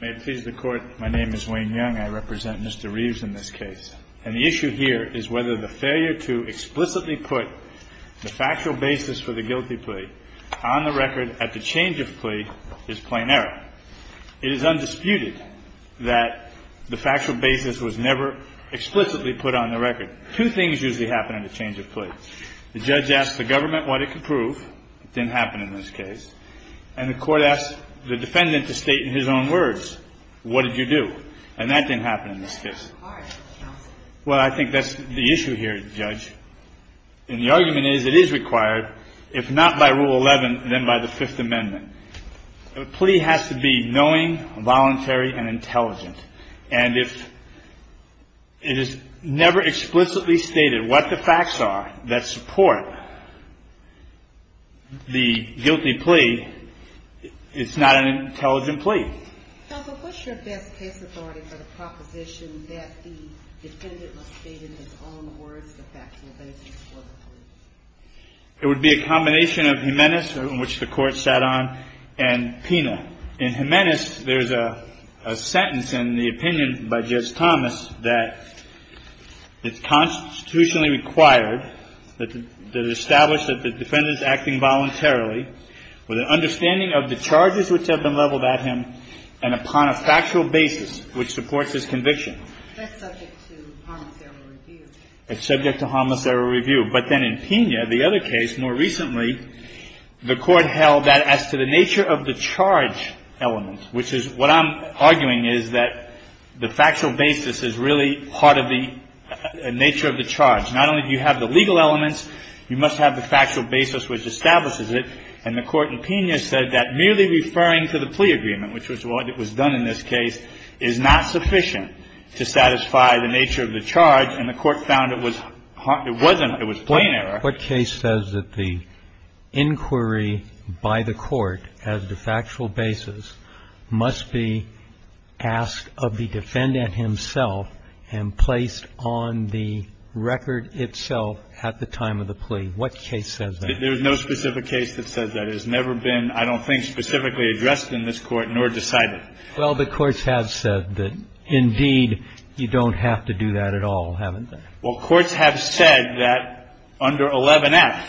May it please the Court, my name is Wayne Young. I represent Mr. Reeves in this case. And the issue here is whether the failure to explicitly put the factual basis for the guilty plea on the record at the change of plea is plain error. It is undisputed that the factual basis was never explicitly put on the record. Two things usually happen in a change of plea. The judge asks the government what it can prove. It didn't happen in this case. And the court asks the defendant to state in his own words, what did you do? And that didn't happen in this case. Well, I think that's the issue here, Judge. And the argument is it is required, if not by Rule 11, then by the Fifth Amendment. A plea has to be knowing, voluntary, and intelligent. And if it is never explicitly stated what the facts are that support the guilty plea, it's not an intelligent plea. Counsel, what's your best case authority for the proposition that the defendant must state in his own words the factual basis for the plea? It would be a combination of Jimenez, in which the Court sat on, and Pina. In Jimenez, there's a sentence in the opinion by Judge Thomas that it's constitutionally required that it establish that the defendant is acting voluntarily with an understanding of the charges which have been leveled at him and upon a factual basis which supports his conviction. That's subject to harmless error review. It's subject to harmless error review. But then in Pina, the other case, more recently, the Court held that as to the nature of the charge element, which is what I'm arguing is that the factual basis is really part of the nature of the charge. Not only do you have the legal elements, you must have the factual basis which establishes it. And the Court in Pina said that merely referring to the plea agreement, which was what was done in this case, is not sufficient to satisfy the nature of the charge, and the Court found it was plain error. What case says that the inquiry by the Court as to factual basis must be asked of the defendant himself and placed on the record itself at the time of the plea? What case says that? There is no specific case that says that. It has never been, I don't think, specifically addressed in this Court, nor decided. Well, the Courts have said that, indeed, you don't have to do that at all, haven't they? Well, Courts have said that under 11F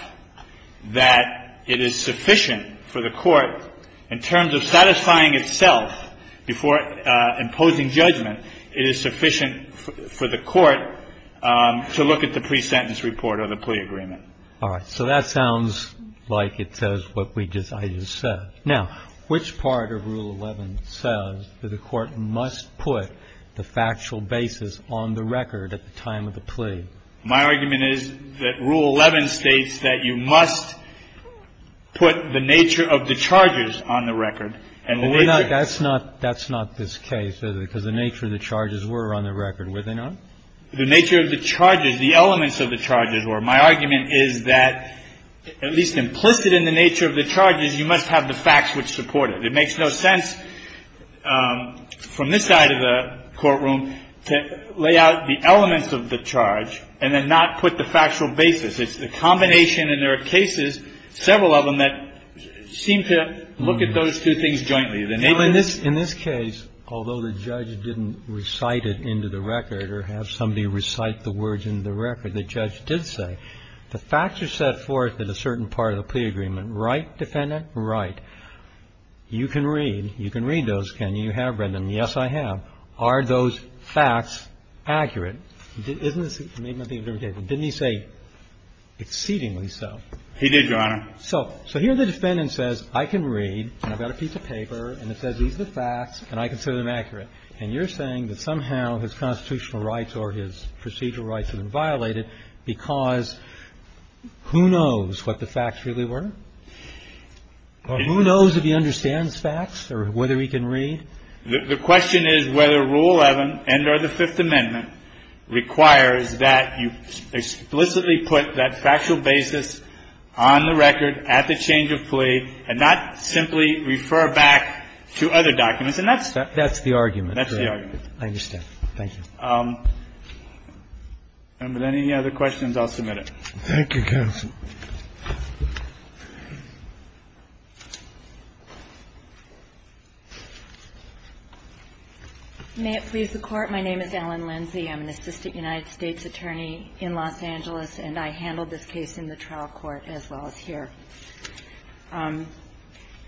that it is sufficient for the Court, in terms of satisfying itself before imposing judgment, it is sufficient for the Court to look at the pre-sentence report or the plea agreement. All right. So that sounds like it says what I just said. Now, which part of Rule 11 says that the Court must put the factual basis on the record at the time of the plea? My argument is that Rule 11 states that you must put the nature of the charges on the record. That's not this case, is it? Because the nature of the charges were on the record, were they not? The nature of the charges, the elements of the charges were. My argument is that, at least implicit in the nature of the charges, you must have the facts which support it. It makes no sense from this side of the courtroom to lay out the elements of the charge and then not put the factual basis. It's the combination, and there are cases, several of them, that seem to look at those two things jointly. The nature of the charges. In this case, although the judge didn't recite it into the record or have somebody recite the words into the record, the judge did say, the facts are set forth in a certain part of the plea agreement. Right, Defendant? Right. You can read. You can read those, can you? You have read them. Yes, I have. Are those facts accurate? Isn't this the same thing? Didn't he say exceedingly so? He did, Your Honor. So here the Defendant says, I can read, and I've got a piece of paper, and it says these are the facts, and I consider them accurate. And you're saying that somehow his constitutional rights or his procedural rights have been violated because who knows what the facts really were? Or who knows if he understands facts or whether he can read? The question is whether Rule 11 and or the Fifth Amendment requires that you explicitly put that factual basis on the record at the change of plea and not simply refer back to other documents. And that's the argument. That's the argument. I understand. Thank you. And with any other questions, I'll submit it. Thank you, counsel. May it please the Court. My name is Ellen Lindsey. I'm an assistant United States attorney in Los Angeles, and I handled this case in the trial court as well as here. Your Honor,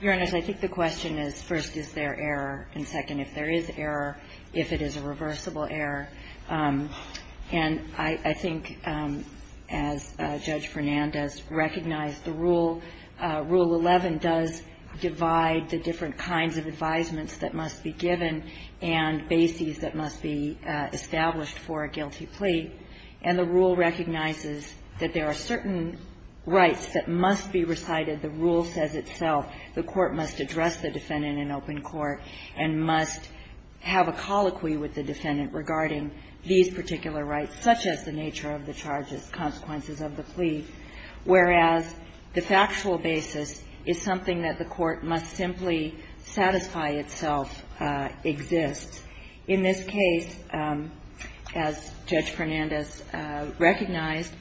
I think the question is, first, is there error, and second, if there is error, if it is a reversible error. And I think, as Judge Fernandez recognized, the rule, Rule 11, does divide the different kinds of advisements that must be given and bases that must be established for a guilty plea. And the rule recognizes that there are certain rights that must be recited. The rule says itself the court must address the defendant in open court and must have a colloquy with the defendant regarding these particular rights, such as the nature of the charges, consequences of the plea, whereas the factual basis is something that the court must simply satisfy itself exists. In this case, as Judge Fernandez recognized,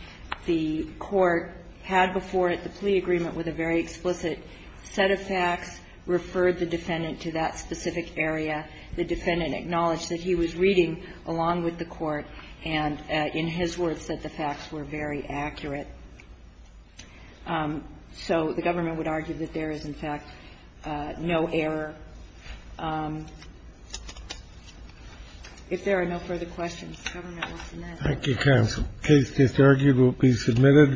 the court had before it the plea agreement with a very explicit set of facts, referred the defendant to that specific area, the defendant acknowledged that he was reading along with the court, and in his words said the facts were very accurate. So the government would argue that there is, in fact, no error. If there are no further questions, the government will submit it. Thank you, counsel. The case disargued will be submitted.